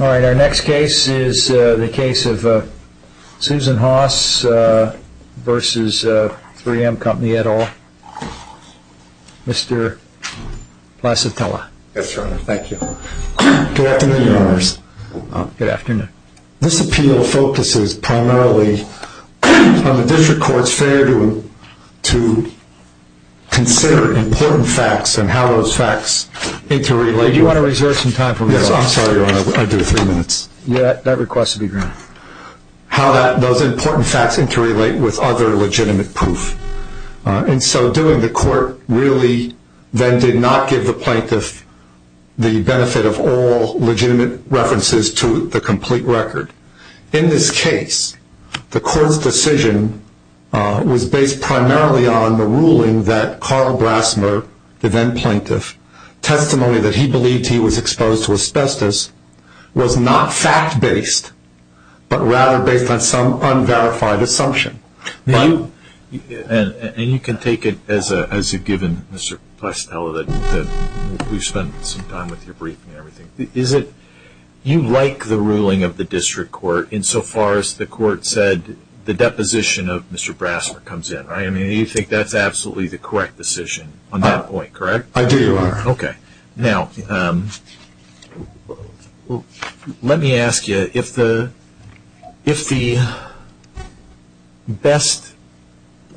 Our next case is the case of Susan Haas v. 3M Company, et al. Mr. Placitella. Yes, Your Honor. Thank you. Good afternoon, Your Honors. Good afternoon. This appeal focuses primarily on the District Court's failure to consider important facts and how those facts need to relate. Do you want to reserve some time for me? Yes, I'm sorry, Your Honor. I do have three minutes. That request will be granted. How those important facts interrelate with other legitimate proof. And so doing the court really then did not give the plaintiff the benefit of all legitimate references to the complete record. In this case, the court's decision was based primarily on the ruling that Carl Brassner, the then plaintiff, testimony that he believed he was exposed to asbestos was not fact-based, but rather based on some unverified assumption. And you can take it as a given, Mr. Placitella, that we've spent some time with your briefing and everything. You like the ruling of the District Court insofar as the court said the deposition of Mr. Brassner comes in, right? I mean, you think that's absolutely the correct decision on that point, correct? I do, Your Honor. Okay. Now, let me ask you, if the best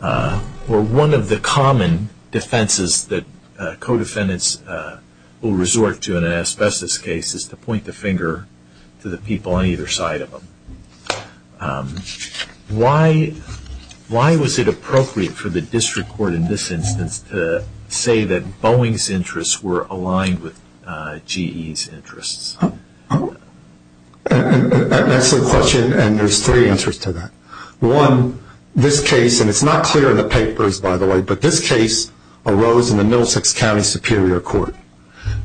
or one of the common defenses that co-defendants will resort to in an asbestos case is to point the finger to the people on either side of them, why was it appropriate for the District Court in this instance to say that Boeing's interests were aligned with GE's interests? That's the question, and there's three answers to that. One, this case, and it's not clear in the papers, by the way, but this case arose in the Middlesex County Superior Court.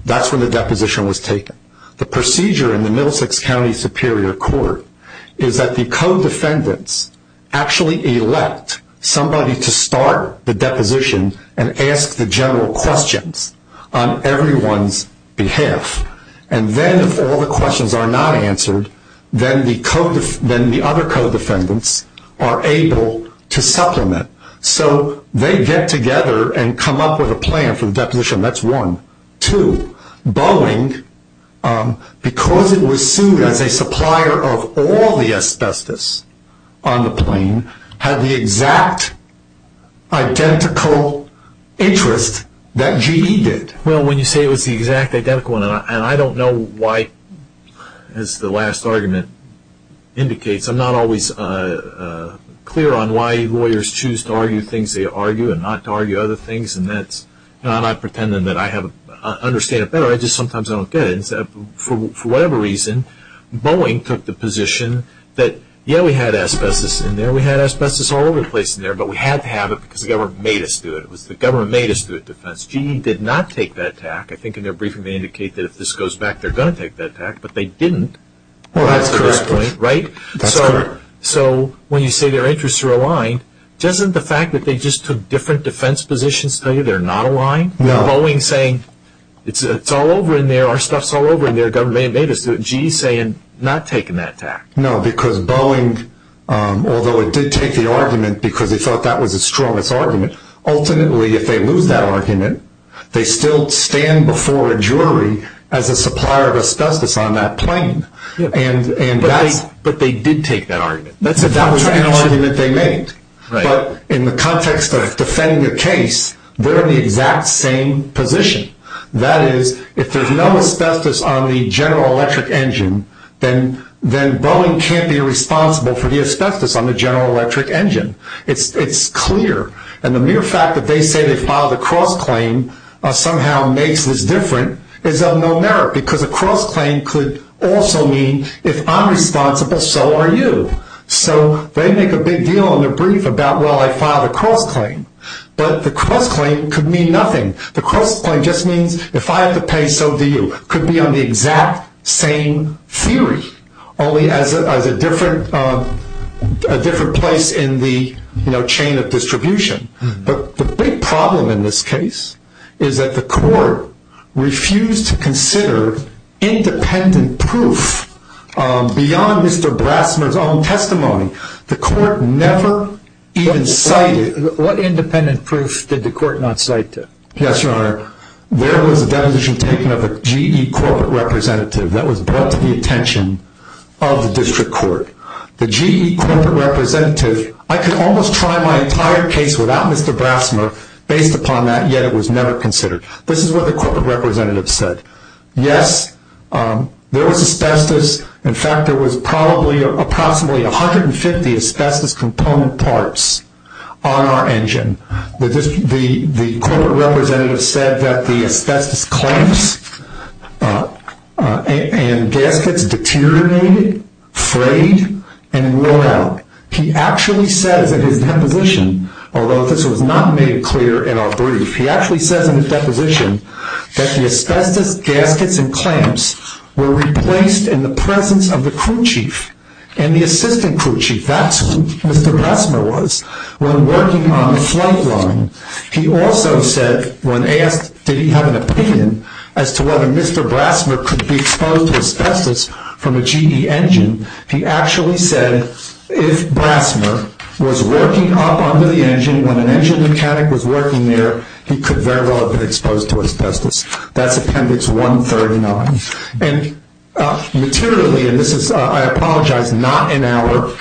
That's when the deposition was taken. The procedure in the Middlesex County Superior Court is that the co-defendants actually elect somebody to start the deposition and ask the general questions on everyone's behalf, and then if all the questions are not answered, then the other co-defendants are able to supplement. So they get together and come up with a plan for the deposition. That's one. Two, Boeing, because it was sued as a supplier of all the asbestos on the plane, had the exact identical interest that GE did. Well, when you say it was the exact identical one, and I don't know why, as the last argument indicates, I'm not always clear on why lawyers choose to argue things they argue and not to argue other things, and I'm not pretending that I understand it better. I just sometimes don't get it. For whatever reason, Boeing took the position that, yeah, we had asbestos in there. We had asbestos all over the place in there, but we had to have it because the government made us do it. It was the government that made us do the defense. GE did not take that attack. I think in their briefing they indicate that if this goes back, they're going to take that attack, but they didn't. Well, that's correct. Right? That's correct. So when you say their interests are aligned, doesn't the fact that they just took different defense positions tell you they're not aligned? No. Boeing saying, it's all over in there, our stuff's all over in there, the government made us do it. GE saying, not taking that attack. No, because Boeing, although it did take the argument because they thought that was its strongest argument, ultimately, if they lose that argument, they still stand before a jury as a supplier of asbestos on that plane. But they did take that argument. That was an argument they made. Right. But in the context of defending a case, they're in the exact same position. That is, if there's no asbestos on the General Electric engine, then Boeing can't be responsible for the asbestos on the General Electric engine. It's clear. And the mere fact that they say they filed a cross-claim somehow makes this different is of no merit because a cross-claim could also mean if I'm responsible, so are you. So they make a big deal on their brief about, well, I filed a cross-claim. But the cross-claim could mean nothing. The cross-claim just means if I have to pay, so do you. It could be on the exact same theory, only as a different place in the chain of distribution. But the big problem in this case is that the court refused to consider independent proof beyond Mr. Blassner's own testimony. The court never even cited. What independent proof did the court not cite? Yes, Your Honor, there was a deposition taken of a GE corporate representative that was brought to the attention of the district court. The GE corporate representative, I could almost try my entire case without Mr. Blassner based upon that, yet it was never considered. This is what the corporate representative said. Yes, there was asbestos. In fact, there was probably approximately 150 asbestos component parts on our engine. The corporate representative said that the asbestos clamps and gaskets deteriorated, frayed, and wore out. He actually said in his deposition, although this was not made clear in our brief, he actually says in his deposition that the asbestos gaskets and clamps were replaced in the presence of the crew chief and the assistant crew chief, that's who Mr. Blassner was when working on the flight line. He also said when asked did he have an opinion as to whether Mr. Blassner could be exposed to asbestos from a GE engine, he actually said if Blassner was working up under the engine, when an engine mechanic was working there, he could very well have been exposed to asbestos. That's Appendix 139. Materially, and this is, I apologize, not in our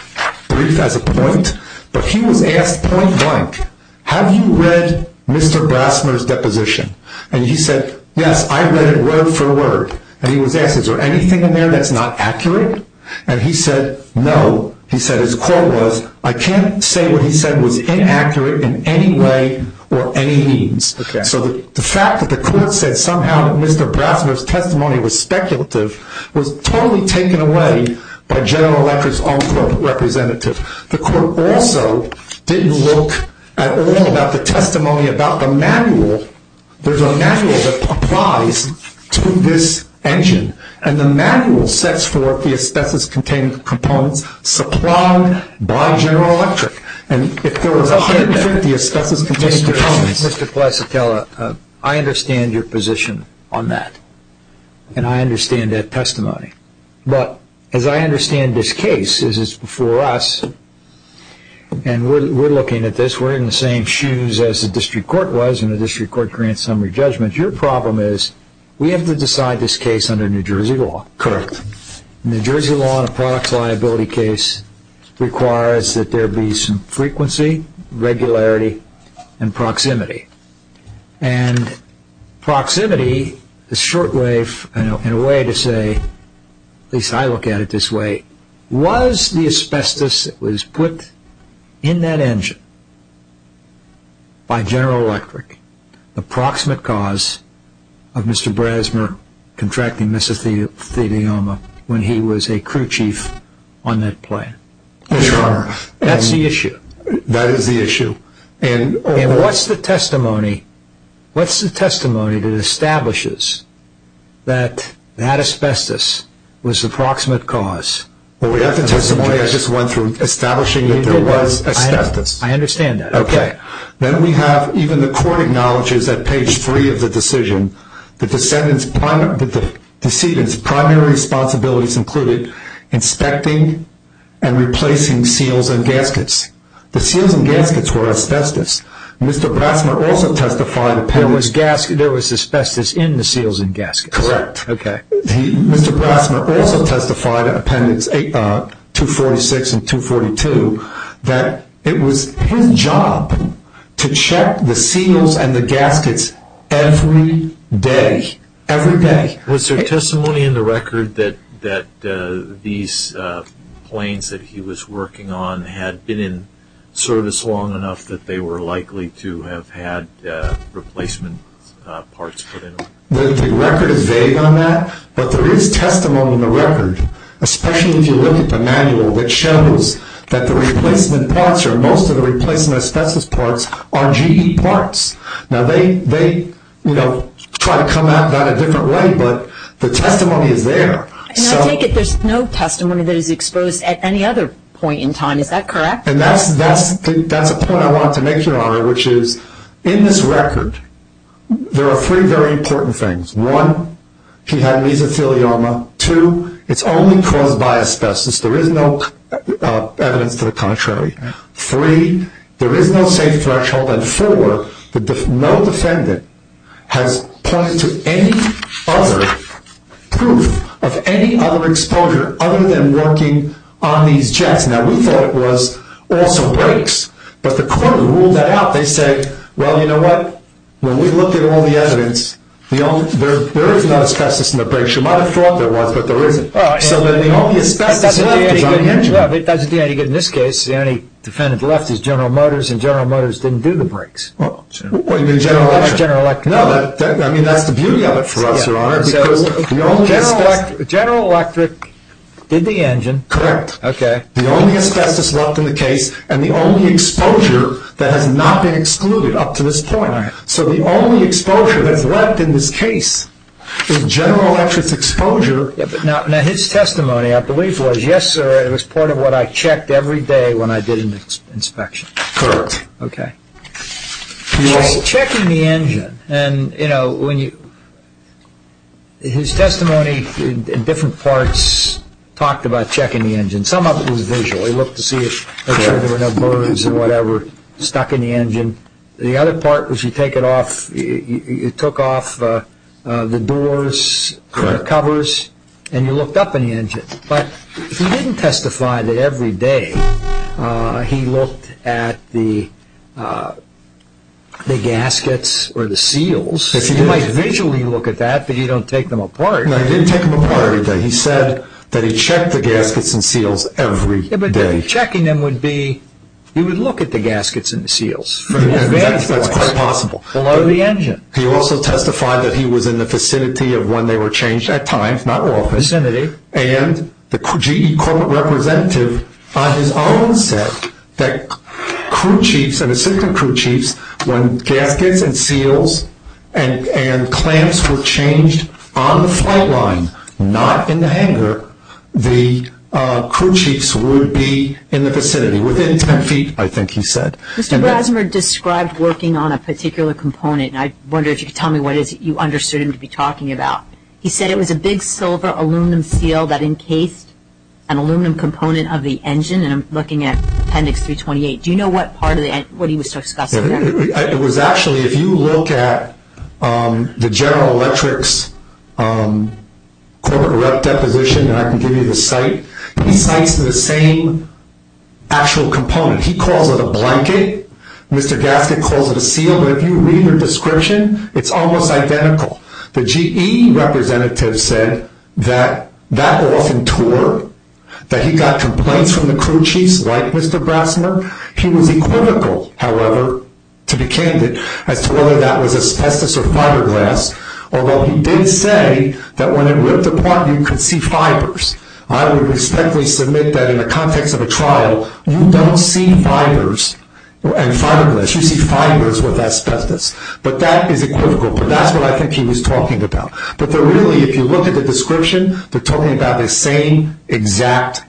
brief as a point, but he was asked point blank, have you read Mr. Blassner's deposition? He said, yes, I read it word for word. He was asked, is there anything in there that's not accurate? He said, no. His quote was, I can't say what he said was inaccurate in any way or any means. So the fact that the court said somehow that Mr. Blassner's testimony was speculative was totally taken away by General Electric's own court representative. The court also didn't look at all about the testimony about the manual. There's a manual that applies to this engine, and the manual sets forth the asbestos-containing components supplied by General Electric. Mr. Placitella, I understand your position on that, and I understand that testimony. But as I understand this case, this is before us, and we're looking at this, we're in the same shoes as the district court was, and the district court grants summary judgments. Your problem is we have to decide this case under New Jersey law. Correct. New Jersey law in a product liability case requires that there be some frequency, regularity, and proximity. And proximity is short-lived in a way to say, at least I look at it this way, was the asbestos that was put in that engine by General Electric the proximate cause of Mr. Blassner contracting mesothelioma when he was a crew chief on that plane? Sure. That's the issue. That is the issue. And what's the testimony that establishes that that asbestos was the proximate cause? Well, we have the testimony I just went through establishing that there was asbestos. I understand that. Okay. Then we have even the court acknowledges at page three of the decision, the decedent's primary responsibilities included inspecting and replacing seals and gaskets. The seals and gaskets were asbestos. Mr. Blassner also testified that there was asbestos in the seals and gaskets. Correct. Okay. Mr. Blassner also testified at Appendix 246 and 242 that it was his job to check the seals and the gaskets every day. Every day. Was there testimony in the record that these planes that he was working on had been in service long enough that they were likely to have had replacement parts put in them? The record is vague on that, but there is testimony in the record, especially if you look at the manual that shows that the replacement parts or most of the replacement asbestos parts are GE parts. Now, they try to come at that a different way, but the testimony is there. And I take it there's no testimony that is exposed at any other point in time. Is that correct? And that's a point I wanted to make, Your Honor, which is in this record there are three very important things. One, he had mesothelioma. Two, it's only caused by asbestos. There is no evidence to the contrary. Three, there is no safe threshold. And four, no defendant has pointed to any other proof of any other exposure other than working on these jets. Now, we thought it was also brakes, but the court ruled that out. They said, well, you know what? When we looked at all the evidence, there is no asbestos in the brakes. You might have thought there was, but there isn't. So then the only asbestos left is on the engine. It doesn't do any good in this case. The only defendant left is General Motors, and General Motors didn't do the brakes. That's General Electric. No, that's the beauty of it for us, Your Honor. General Electric did the engine. Correct. The only asbestos left in the case and the only exposure that has not been excluded up to this point. So the only exposure that's left in this case is General Electric's exposure. Now, his testimony, I believe, was yes, sir, it was part of what I checked every day when I did an inspection. Correct. Okay. He was checking the engine. And, you know, his testimony in different parts talked about checking the engine. Some of it was visual. He looked to see to make sure there were no burrs or whatever stuck in the engine. The other part was you take it off, you took off the doors, the covers, and you looked up in the engine. But he didn't testify that every day he looked at the gaskets or the seals. You might visually look at that, but you don't take them apart. No, he didn't take them apart every day. He said that he checked the gaskets and seals every day. But checking them would be, he would look at the gaskets and the seals from various points. That's quite possible. Below the engine. He also testified that he was in the vicinity of when they were changed, at times, not always. In the vicinity. And the GE corporate representative on his own said that crew chiefs and assistant crew chiefs, when gaskets and seals and clamps were changed on the flight line, not in the hangar, the crew chiefs would be in the vicinity. Within 10 feet, I think he said. Mr. Brasmer described working on a particular component, and I wonder if you could tell me what it is that you understood him to be talking about. He said it was a big silver aluminum seal that encased an aluminum component of the engine, and I'm looking at appendix 328. Do you know what part of the, what he was discussing there? It was actually, if you look at the General Electric's corporate rep deposition, and I can give you the site, he cites the same actual component. He calls it a blanket. Mr. Gasket calls it a seal. But if you read the description, it's almost identical. The GE representative said that that often tore, that he got complaints from the crew chiefs like Mr. Brasmer. He was equivocal, however, to be candid, as to whether that was asbestos or fiberglass, although he did say that when it ripped apart, you could see fibers. I would respectfully submit that in the context of a trial, you don't see fibers and fiberglass. You see fibers with asbestos. But that is equivocal, but that's what I think he was talking about. But really, if you look at the description, they're talking about the same exact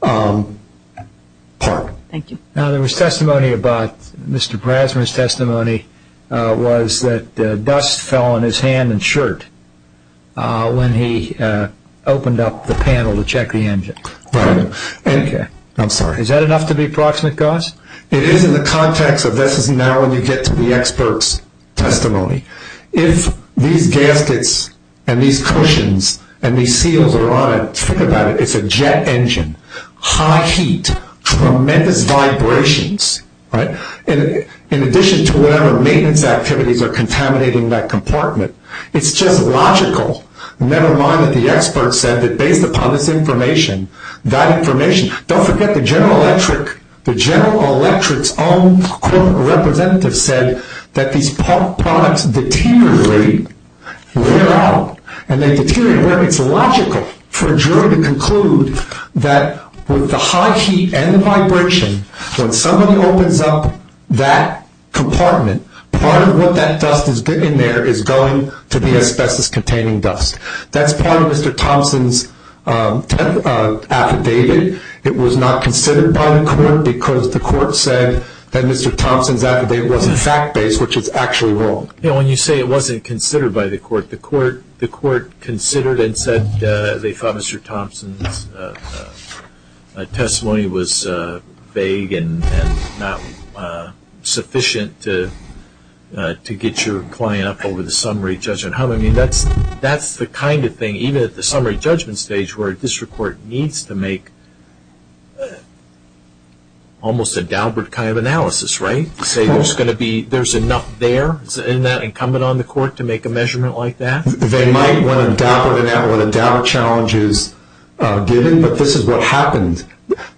part. Thank you. Now, there was testimony about, Mr. Brasmer's testimony was that dust fell on his hand and shirt when he opened up the panel to check the engine. Right. I'm sorry. Is that enough to be proximate, Gus? It is in the context of this is now when you get to the expert's testimony. If these gaskets and these cushions and these seals are on it, think about it. It's a jet engine. High heat. Tremendous vibrations. Right. In addition to whatever maintenance activities are contaminating that compartment. It's just logical, never mind that the expert said that based upon this information, that information, don't forget the General Electric's own corporate representative said that these products deteriorate, wear out, and they deteriorate. It's logical for a jury to conclude that with the high heat and the vibration, when somebody opens up that compartment, part of what that dust is getting there is going to the asbestos-containing dust. That's part of Mr. Thompson's affidavit. It was not considered by the court because the court said that Mr. Thompson's affidavit wasn't fact-based, which is actually wrong. When you say it wasn't considered by the court, the court considered and said they thought Mr. Thompson's testimony was vague and not sufficient to get your point up over the summary judgment. I mean, that's the kind of thing, even at the summary judgment stage, where a district court needs to make almost a Daubert kind of analysis, right, to say there's going to be, there's enough there, isn't that incumbent on the court to make a measurement like that? They might when a Daubert challenge is given, but this is what happened.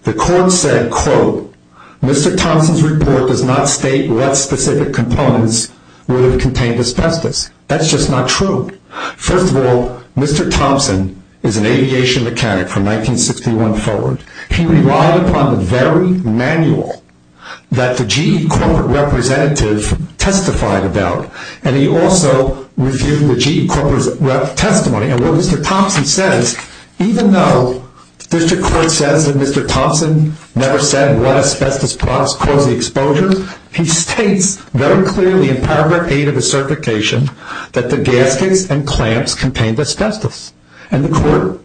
The court said, quote, Mr. Thompson's report does not state what specific components would have contained asbestos. That's just not true. First of all, Mr. Thompson is an aviation mechanic from 1961 forward. He relied upon the very manual that the GE corporate representative testified about, and he also reviewed the GE corporate representative testimony. And what Mr. Thompson says, even though the district court says that Mr. Thompson never said what asbestos caused the exposure, he states very clearly in paragraph 8 of the certification that the gaskets and clamps contained asbestos, and the court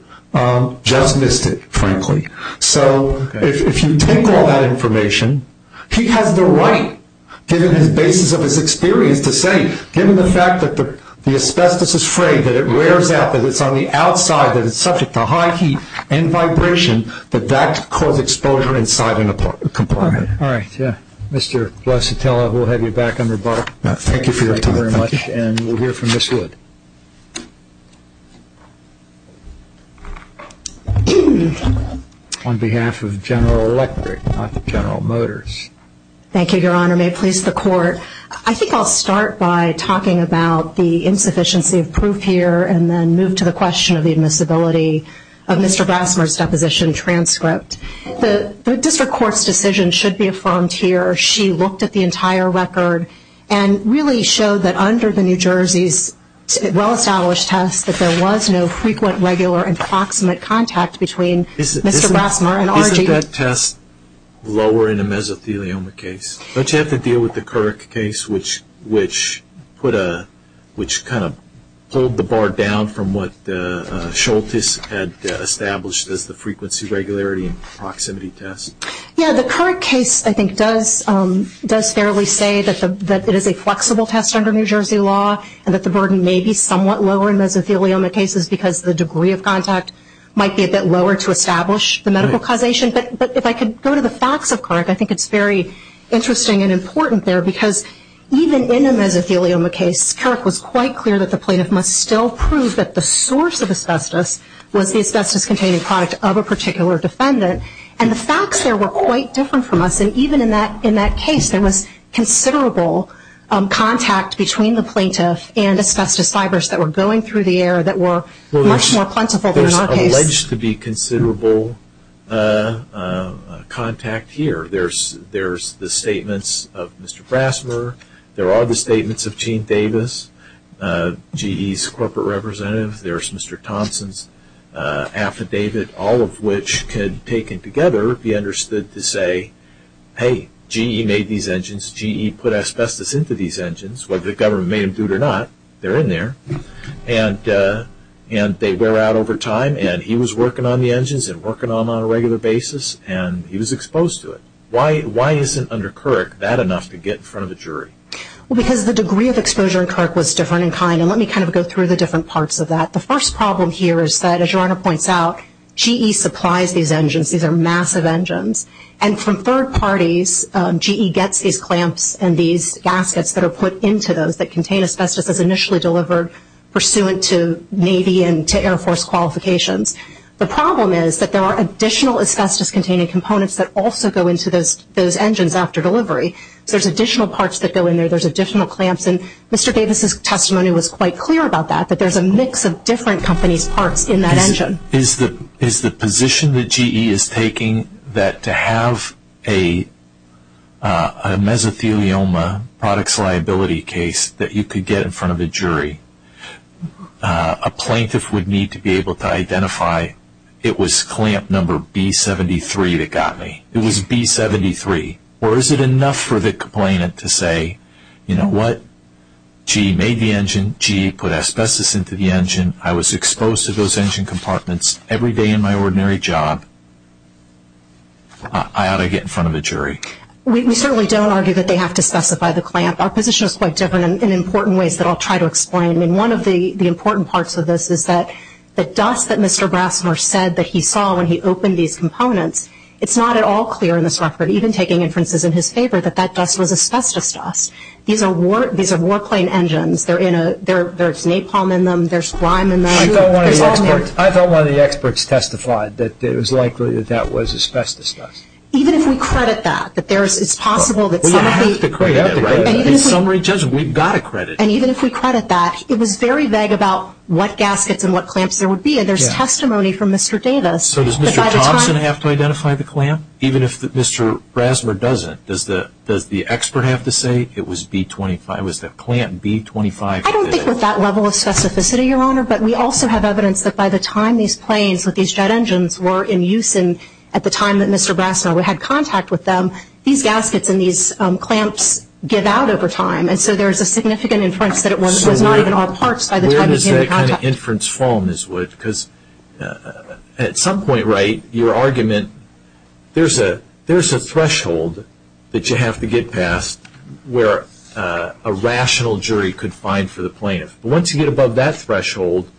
just missed it, frankly. So if you take all that information, he has the right, given the basis of his experience, to say, given the fact that the asbestos is frayed, that it wears out, that it's on the outside, that it's subject to high heat and vibration, that that caused exposure inside a compartment. All right. Yeah. Mr. Blasatella, we'll have you back under bar. Thank you for your time. Thank you very much. And we'll hear from Ms. Wood. On behalf of General Electric, not General Motors. Thank you, Your Honor. May it please the court, I think I'll start by talking about the insufficiency of proof here and then move to the question of the admissibility of Mr. Brassmer's deposition transcript. The district court's decision should be affirmed here. She looked at the entire record and really showed that under the New Jersey's well-established test, that there was no frequent, regular, and proximate contact between Mr. Brassmer and R.G. Isn't that test lower in a mesothelioma case? Don't you have to deal with the Couric case, which kind of pulled the bar down from what Schultes had established as the frequency, regularity, and proximity test? Yeah. The Couric case, I think, does fairly say that it is a flexible test under New Jersey law and that the burden may be somewhat lower in mesothelioma cases because the degree of contact might be a bit lower to establish the medical causation. But if I could go to the facts of Couric, I think it's very interesting and important there because even in a mesothelioma case, Couric was quite clear that the plaintiff must still prove that the source of asbestos was the asbestos-containing product of a particular defendant. And the facts there were quite different from us. And even in that case, there was considerable contact between the plaintiff and asbestos fibers that were going through the air that were much more plentiful than in our case. There's alleged to be considerable contact here. There's the statements of Mr. Brasmer. There are the statements of Gene Davis, GE's corporate representative. There's Mr. Thompson's affidavit, all of which could, taken together, be understood to say, hey, GE made these engines. GE put asbestos into these engines. Whether the government made them or not, they're in there. And they wear out over time. And he was working on the engines and working on them on a regular basis, and he was exposed to it. Why isn't, under Couric, that enough to get in front of a jury? Well, because the degree of exposure in Couric was different in kind. And let me kind of go through the different parts of that. The first problem here is that, as your Honor points out, GE supplies these engines. These are massive engines. And from third parties, GE gets these clamps and these gaskets that are put into those that contain asbestos as initially delivered pursuant to Navy and to Air Force qualifications. The problem is that there are additional asbestos-containing components that also go into those engines after delivery. So there's additional parts that go in there. There's additional clamps. And Mr. Davis' testimony was quite clear about that, Is the position that GE is taking that to have a mesothelioma products liability case that you could get in front of a jury, a plaintiff would need to be able to identify, it was clamp number B73 that got me. It was B73. Or is it enough for the complainant to say, you know what? GE made the engine. GE put asbestos into the engine. I was exposed to those engine compartments every day in my ordinary job. I ought to get in front of a jury. We certainly don't argue that they have to specify the clamp. Our position is quite different in important ways that I'll try to explain. And one of the important parts of this is that the dust that Mr. Brassner said that he saw when he opened these components, it's not at all clear in this record, even taking inferences in his favor, that that dust was asbestos dust. These are warplane engines. There's napalm in them. There's lime in them. I thought one of the experts testified that it was likely that that was asbestos dust. Even if we credit that, that it's possible that some of the ‑‑ We have to credit it. In summary, Judge, we've got to credit it. And even if we credit that, it was very vague about what gaskets and what clamps there would be, and there's testimony from Mr. Davis. So does Mr. Thompson have to identify the clamp? Even if Mr. Brassner doesn't, does the expert have to say it was the clamp B25? I don't think with that level of specificity, Your Honor, but we also have evidence that by the time these planes with these jet engines were in use and at the time that Mr. Brassner had contact with them, these gaskets and these clamps give out over time. And so there's a significant inference that it was not even all parts by the time he had contact. Where does that kind of inference fall, Ms. Wood? Because at some point, right, your argument, there's a threshold that you have to get past where a rational jury could find for the plaintiff. Once you get above that threshold,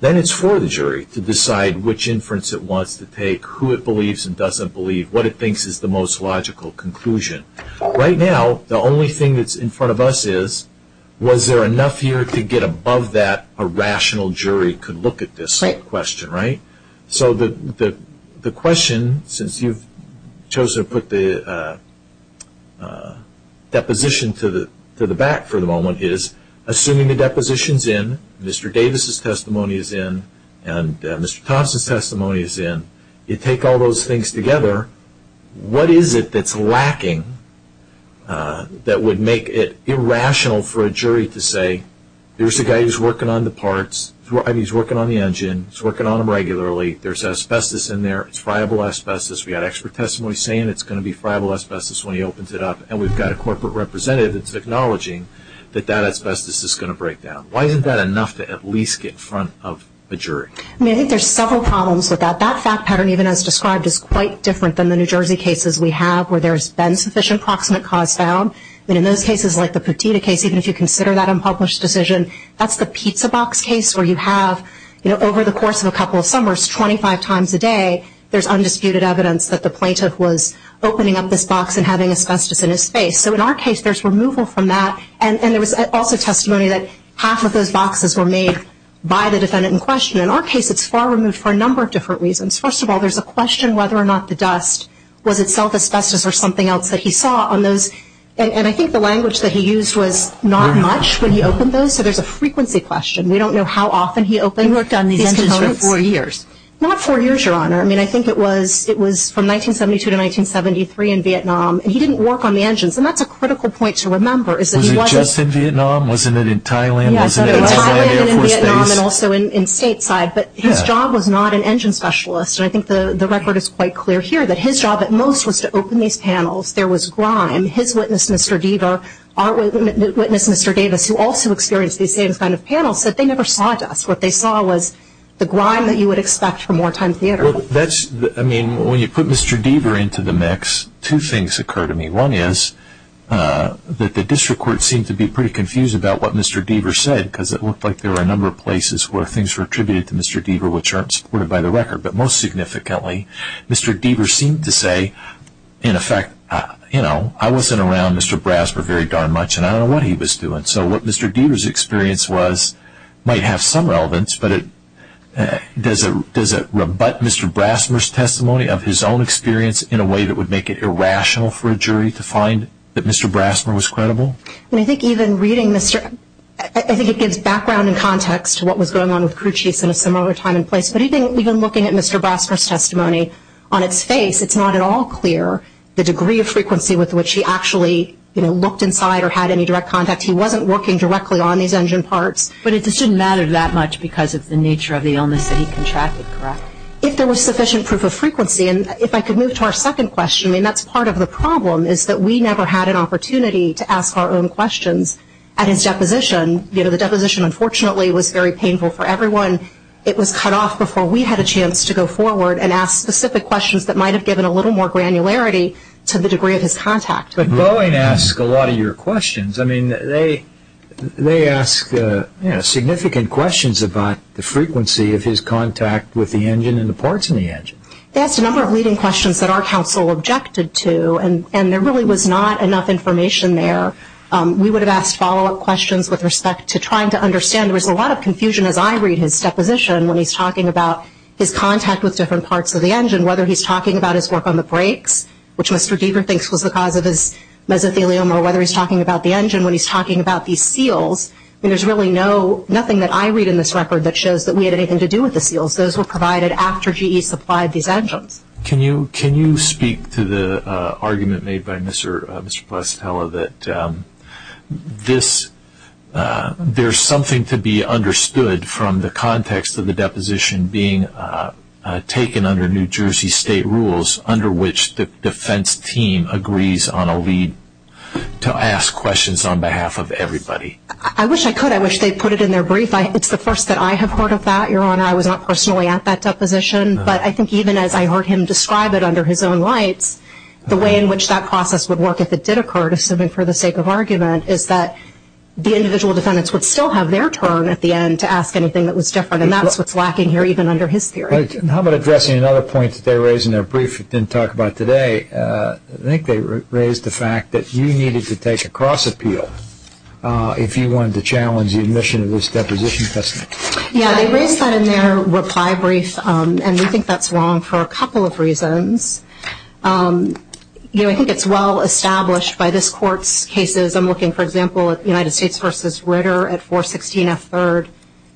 then it's for the jury to decide which inference it wants to take, who it believes and doesn't believe, what it thinks is the most logical conclusion. Right now, the only thing that's in front of us is, was there enough here to get above that, a rational jury could look at this question, right? So the question, since you've chosen to put the deposition to the back for the moment, is assuming the deposition's in, Mr. Davis' testimony is in, and Mr. Thompson's testimony is in, you take all those things together, what is it that's lacking that would make it irrational for a jury to say, there's a guy who's working on the parts, he's working on the engine, he's working on them regularly, there's asbestos in there, it's friable asbestos, we've got expert testimony saying it's going to be friable asbestos when he opens it up, and we've got a corporate representative that's acknowledging that that asbestos is going to break down. Why isn't that enough to at least get in front of a jury? I mean, I think there's several problems with that. That fact pattern, even as described, is quite different than the New Jersey cases we have where there's been sufficient proximate cause found. I mean, in those cases, like the Petita case, even if you consider that unpublished decision, that's the pizza box case where you have, over the course of a couple of summers, 25 times a day, there's undisputed evidence that the plaintiff was opening up this box and having asbestos in his face. So in our case, there's removal from that, and there was also testimony that half of those boxes were made by the defendant in question. In our case, it's far removed for a number of different reasons. First of all, there's a question whether or not the dust was itself asbestos or something else that he saw on those, and I think the language that he used was not much when he opened those, so there's a frequency question. We don't know how often he opened these components. He worked on these engines for four years. Not four years, Your Honor. I mean, I think it was from 1972 to 1973 in Vietnam, and he didn't work on the engines, and that's a critical point to remember is that he wasn't. Was it just in Vietnam? Wasn't it in Thailand? Wasn't it in the Air Force Base? In Thailand and in Vietnam and also in stateside, but his job was not an engine specialist, and I think the record is quite clear here that his job at most was to open these panels. There was grime. His witness, Mr. Deaver, our witness, Mr. Davis, who also experienced these same kind of panels, said they never saw dust. What they saw was the grime that you would expect from wartime theater. I mean, when you put Mr. Deaver into the mix, two things occur to me. One is that the district court seemed to be pretty confused about what Mr. Deaver said because it looked like there were a number of places where things were attributed to Mr. Deaver which aren't supported by the record, but most significantly, Mr. Deaver seemed to say, in effect, you know, I wasn't around Mr. Brasmer very darn much, and I don't know what he was doing. So what Mr. Deaver's experience was might have some relevance, but does it rebut Mr. Brasmer's testimony of his own experience in a way that would make it irrational for a jury to find that Mr. Brasmer was credible? I mean, I think even reading Mr. I think it gives background and context to what was going on with crew chiefs in a similar time and place, but even looking at Mr. Brasmer's testimony on its face, it's not at all clear the degree of frequency with which he actually, you know, looked inside or had any direct contact. He wasn't working directly on these engine parts. But it just didn't matter that much because of the nature of the illness that he contracted, correct? If there was sufficient proof of frequency. And if I could move to our second question, I mean, that's part of the problem is that we never had an opportunity to ask our own questions at his deposition. You know, the deposition, unfortunately, was very painful for everyone. It was cut off before we had a chance to go forward and ask specific questions that might have given a little more granularity to the degree of his contact. But Boeing asks a lot of your questions. I mean, they ask significant questions about the frequency of his contact with the engine and the parts in the engine. They asked a number of leading questions that our counsel objected to, and there really was not enough information there. We would have asked follow-up questions with respect to trying to understand. There was a lot of confusion, as I read his deposition, when he's talking about his contact with different parts of the engine, whether he's talking about his work on the brakes, which Mr. Deaver thinks was the cause of his mesothelioma, or whether he's talking about the engine when he's talking about these seals. I mean, there's really nothing that I read in this record that shows that we had anything to do with the seals. Those were provided after GE supplied these engines. Can you speak to the argument made by Mr. Placitella that there's something to be understood from the context of the deposition being taken under New Jersey state rules, under which the defense team agrees on a lead to ask questions on behalf of everybody? I wish I could. I wish they'd put it in their brief. It's the first that I have heard of that, Your Honor. I was not personally at that deposition. But I think even as I heard him describe it under his own lights, the way in which that process would work if it did occur, assuming for the sake of argument, is that the individual defendants would still have their turn at the end to ask anything that was different. And that's what's lacking here, even under his theory. How about addressing another point that they raised in their brief that they didn't talk about today? I think they raised the fact that you needed to take a cross-appeal if you wanted to challenge the admission of this deposition testimony. Yeah, they raised that in their reply brief. And we think that's wrong for a couple of reasons. I think it's well-established by this Court's cases. I'm looking, for example, at United States v. Ritter at 416 F. 3rd,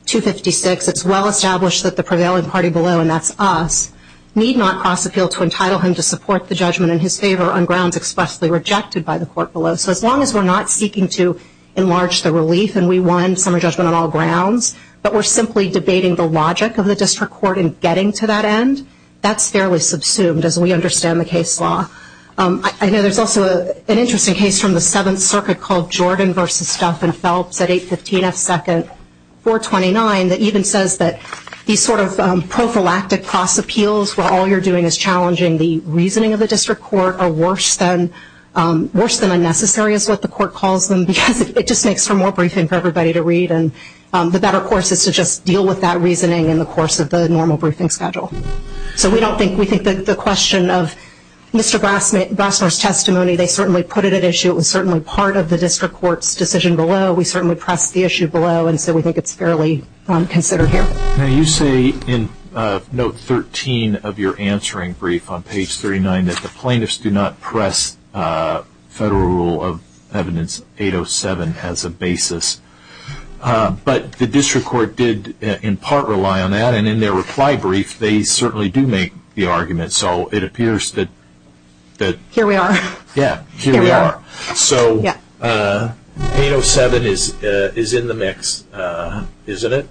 256. It's well-established that the prevailing party below, and that's us, need not cross-appeal to entitle him to support the judgment in his favor on grounds expressly rejected by the court below. So as long as we're not seeking to enlarge the relief and we want summary judgment on all grounds, but we're simply debating the logic of the district court in getting to that end, that's fairly subsumed as we understand the case law. I know there's also an interesting case from the Seventh Circuit called Jordan v. Stuffin-Phelps at 815 F. 2nd, 429, that even says that these sort of prophylactic cross-appeals where all you're doing is challenging the reasoning of the district court are worse than unnecessary is what the court calls them because it just makes for more briefing for everybody to read, and the better course is to just deal with that reasoning in the course of the normal briefing schedule. So we think that the question of Mr. Brassner's testimony, they certainly put it at issue. It was certainly part of the district court's decision below. We certainly pressed the issue below, and so we think it's fairly considered here. Now you say in Note 13 of your answering brief on page 39 that the plaintiffs do not press Federal Rule of Evidence 807 as a basis, but the district court did in part rely on that, and in their reply brief they certainly do make the argument, so it appears that... Here we are. Yeah, here we are. So 807 is in the mix, isn't it?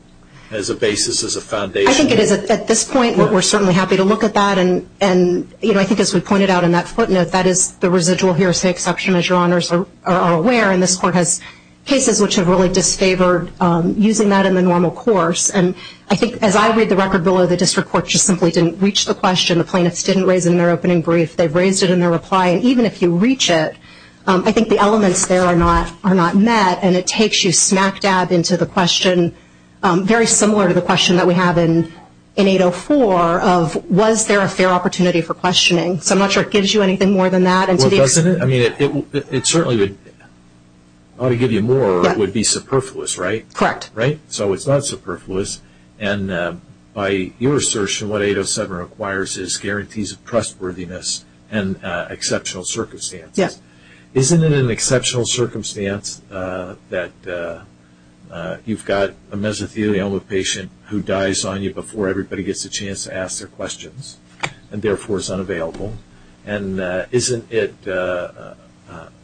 As a basis, as a foundation. I think it is at this point. We're certainly happy to look at that, and I think as we pointed out in that footnote, that is the residual here is the exception, as your honors are aware, and this court has cases which have really disfavored using that in the normal course, and I think as I read the record below, the district court just simply didn't reach the question. The plaintiffs didn't raise it in their opening brief. They've raised it in their reply, and even if you reach it, I think the elements there are not met, and it takes you smack dab into the question, very similar to the question that we have in 804, of was there a fair opportunity for questioning. So I'm not sure it gives you anything more than that. Well, doesn't it? I mean, it certainly would. I ought to give you more would be superfluous, right? Correct. Right? So it's not superfluous, and by your assertion, what 807 requires is guarantees of trustworthiness and exceptional circumstances. Yes. Isn't it an exceptional circumstance that you've got a mesothelioma patient who dies on you before everybody gets a chance to ask their questions and therefore is unavailable, and isn't it a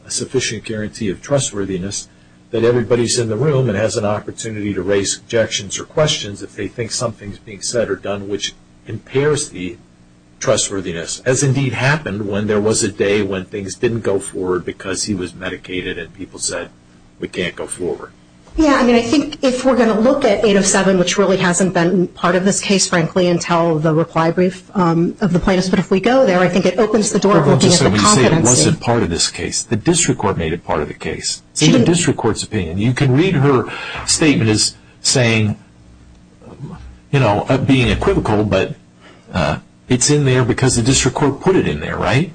sufficient guarantee of trustworthiness that everybody's in the room and has an opportunity to raise objections or questions if they think something's being said or done which impairs the trustworthiness, as indeed happened when there was a day when things didn't go forward because he was medicated and people said, we can't go forward? Yeah. I mean, I think if we're going to look at 807, which really hasn't been part of this case, frankly, until the reply brief of the plaintiffs, but if we go there, I think it opens the door of looking at the competency. Well, just so we say it wasn't part of this case. The district court made it part of the case. It's in the district court's opinion. You can read her statement as saying, you know, being equivocal, but it's in there because the district court put it in there, right?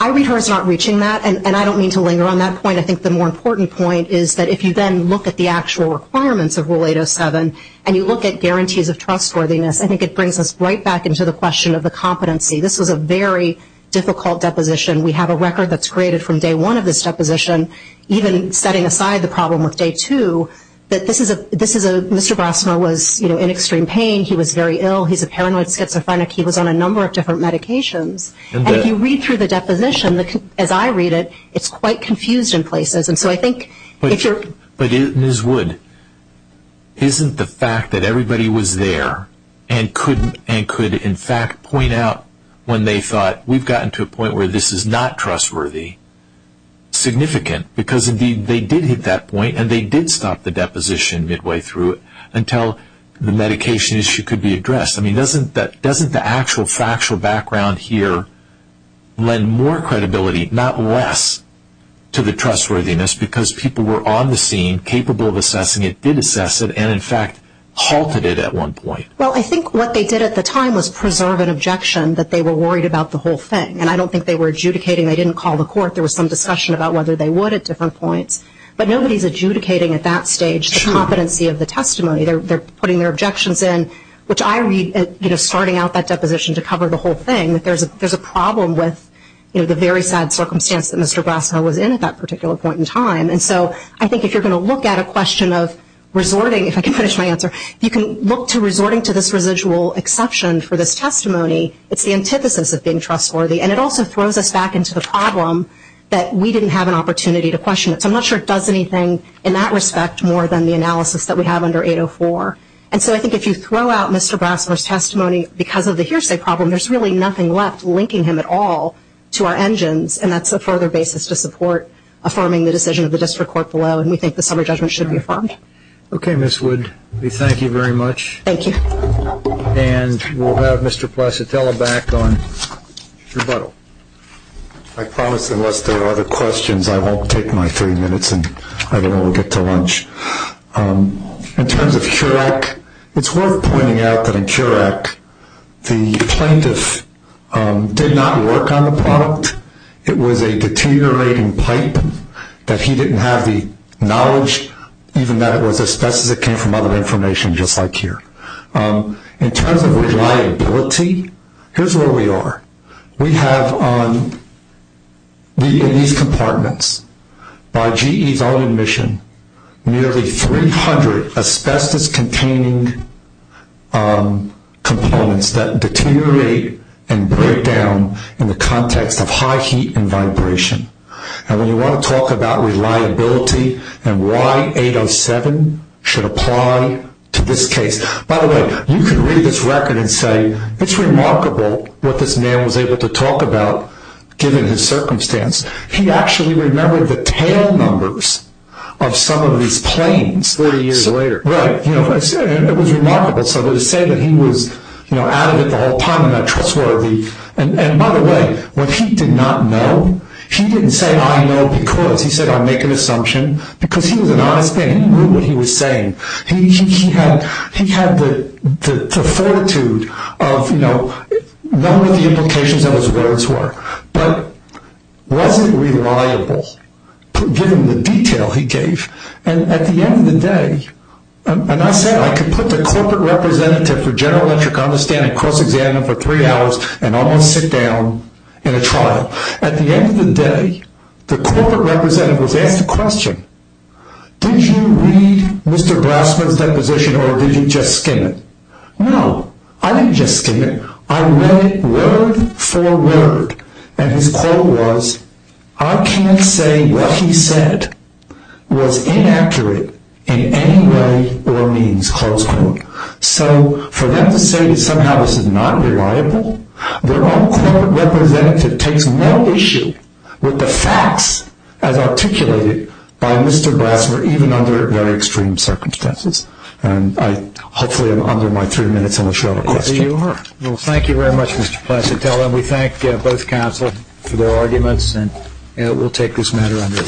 I read her as not reaching that, and I don't mean to linger on that point. I think the more important point is that if you then look at the actual requirements of Rule 807 and you look at guarantees of trustworthiness, I think it brings us right back into the question of the competency. This was a very difficult deposition. We have a record that's created from day one of this deposition, even setting aside the problem with day two, that this is a Mr. Brassner was in extreme pain. He was very ill. He's a paranoid schizophrenic. He was on a number of different medications. And if you read through the deposition, as I read it, it's quite confused in places. But, Ms. Wood, isn't the fact that everybody was there and could in fact point out when they thought, we've gotten to a point where this is not trustworthy significant? Because, indeed, they did hit that point, and they did stop the deposition midway through it until the medication issue could be addressed. Doesn't the actual factual background here lend more credibility, not less, to the trustworthiness because people were on the scene, capable of assessing it, did assess it, and in fact halted it at one point? Well, I think what they did at the time was preserve an objection that they were worried about the whole thing. And I don't think they were adjudicating. They didn't call the court. There was some discussion about whether they would at different points. But nobody's adjudicating at that stage the competency of the testimony. They're putting their objections in, which I read, you know, starting out that deposition to cover the whole thing, that there's a problem with, you know, the very sad circumstance that Mr. Brasco was in at that particular point in time. And so I think if you're going to look at a question of resorting, if I can finish my answer, if you can look to resorting to this residual exception for this testimony, it's the antithesis of being trustworthy. And it also throws us back into the problem that we didn't have an opportunity to question it. So I'm not sure it does anything in that respect more than the analysis that we have under 804. And so I think if you throw out Mr. Brasco's testimony because of the hearsay problem, there's really nothing left linking him at all to our engines, and that's a further basis to support affirming the decision of the district court below, and we think the summary judgment should be affirmed. Okay, Ms. Wood. We thank you very much. Thank you. And we'll have Mr. Placitella back on rebuttal. I promise unless there are other questions I won't take my three minutes, and I don't know when we'll get to lunch. In terms of CURAC, it's worth pointing out that in CURAC the plaintiff did not work on the product. It was a deteriorating pipe that he didn't have the knowledge, even that it was asbestos that came from other information just like here. In terms of reliability, here's where we are. We have in these compartments, by GE's own admission, nearly 300 asbestos-containing components that deteriorate and break down in the context of high heat and vibration. And when you want to talk about reliability and why 807 should apply to this case. By the way, you can read this record and say it's remarkable what this man was able to talk about, given his circumstance. He actually remembered the tail numbers of some of these planes. Forty years later. Right. It was remarkable. So to say that he was at it the whole time and that trustworthy. And by the way, when he did not know, he didn't say I know because. He said I make an assumption because he was an honest man. He knew what he was saying. He had the fortitude of knowing the implications of his words were. But was it reliable given the detail he gave? And at the end of the day, and I said I could put the corporate representative for General Electric on the stand and cross-examine him for three hours and almost sit down in a trial. At the end of the day, the corporate representative was asked a question. Did you read Mr. Grassman's deposition or did you just skim it? No, I didn't just skim it. I read it word for word. And his quote was, I can't say what he said was inaccurate in any way or means, close quote. So for them to say that somehow this is not reliable, their own corporate representative takes no issue with the facts as articulated by Mr. Grassman even under very extreme circumstances. And hopefully I'm under my three minutes on the show of questions. You are. Well, thank you very much, Mr. Placitello. And we thank both counsel for their arguments. And we'll take this matter under its current orders. Thank you, guys.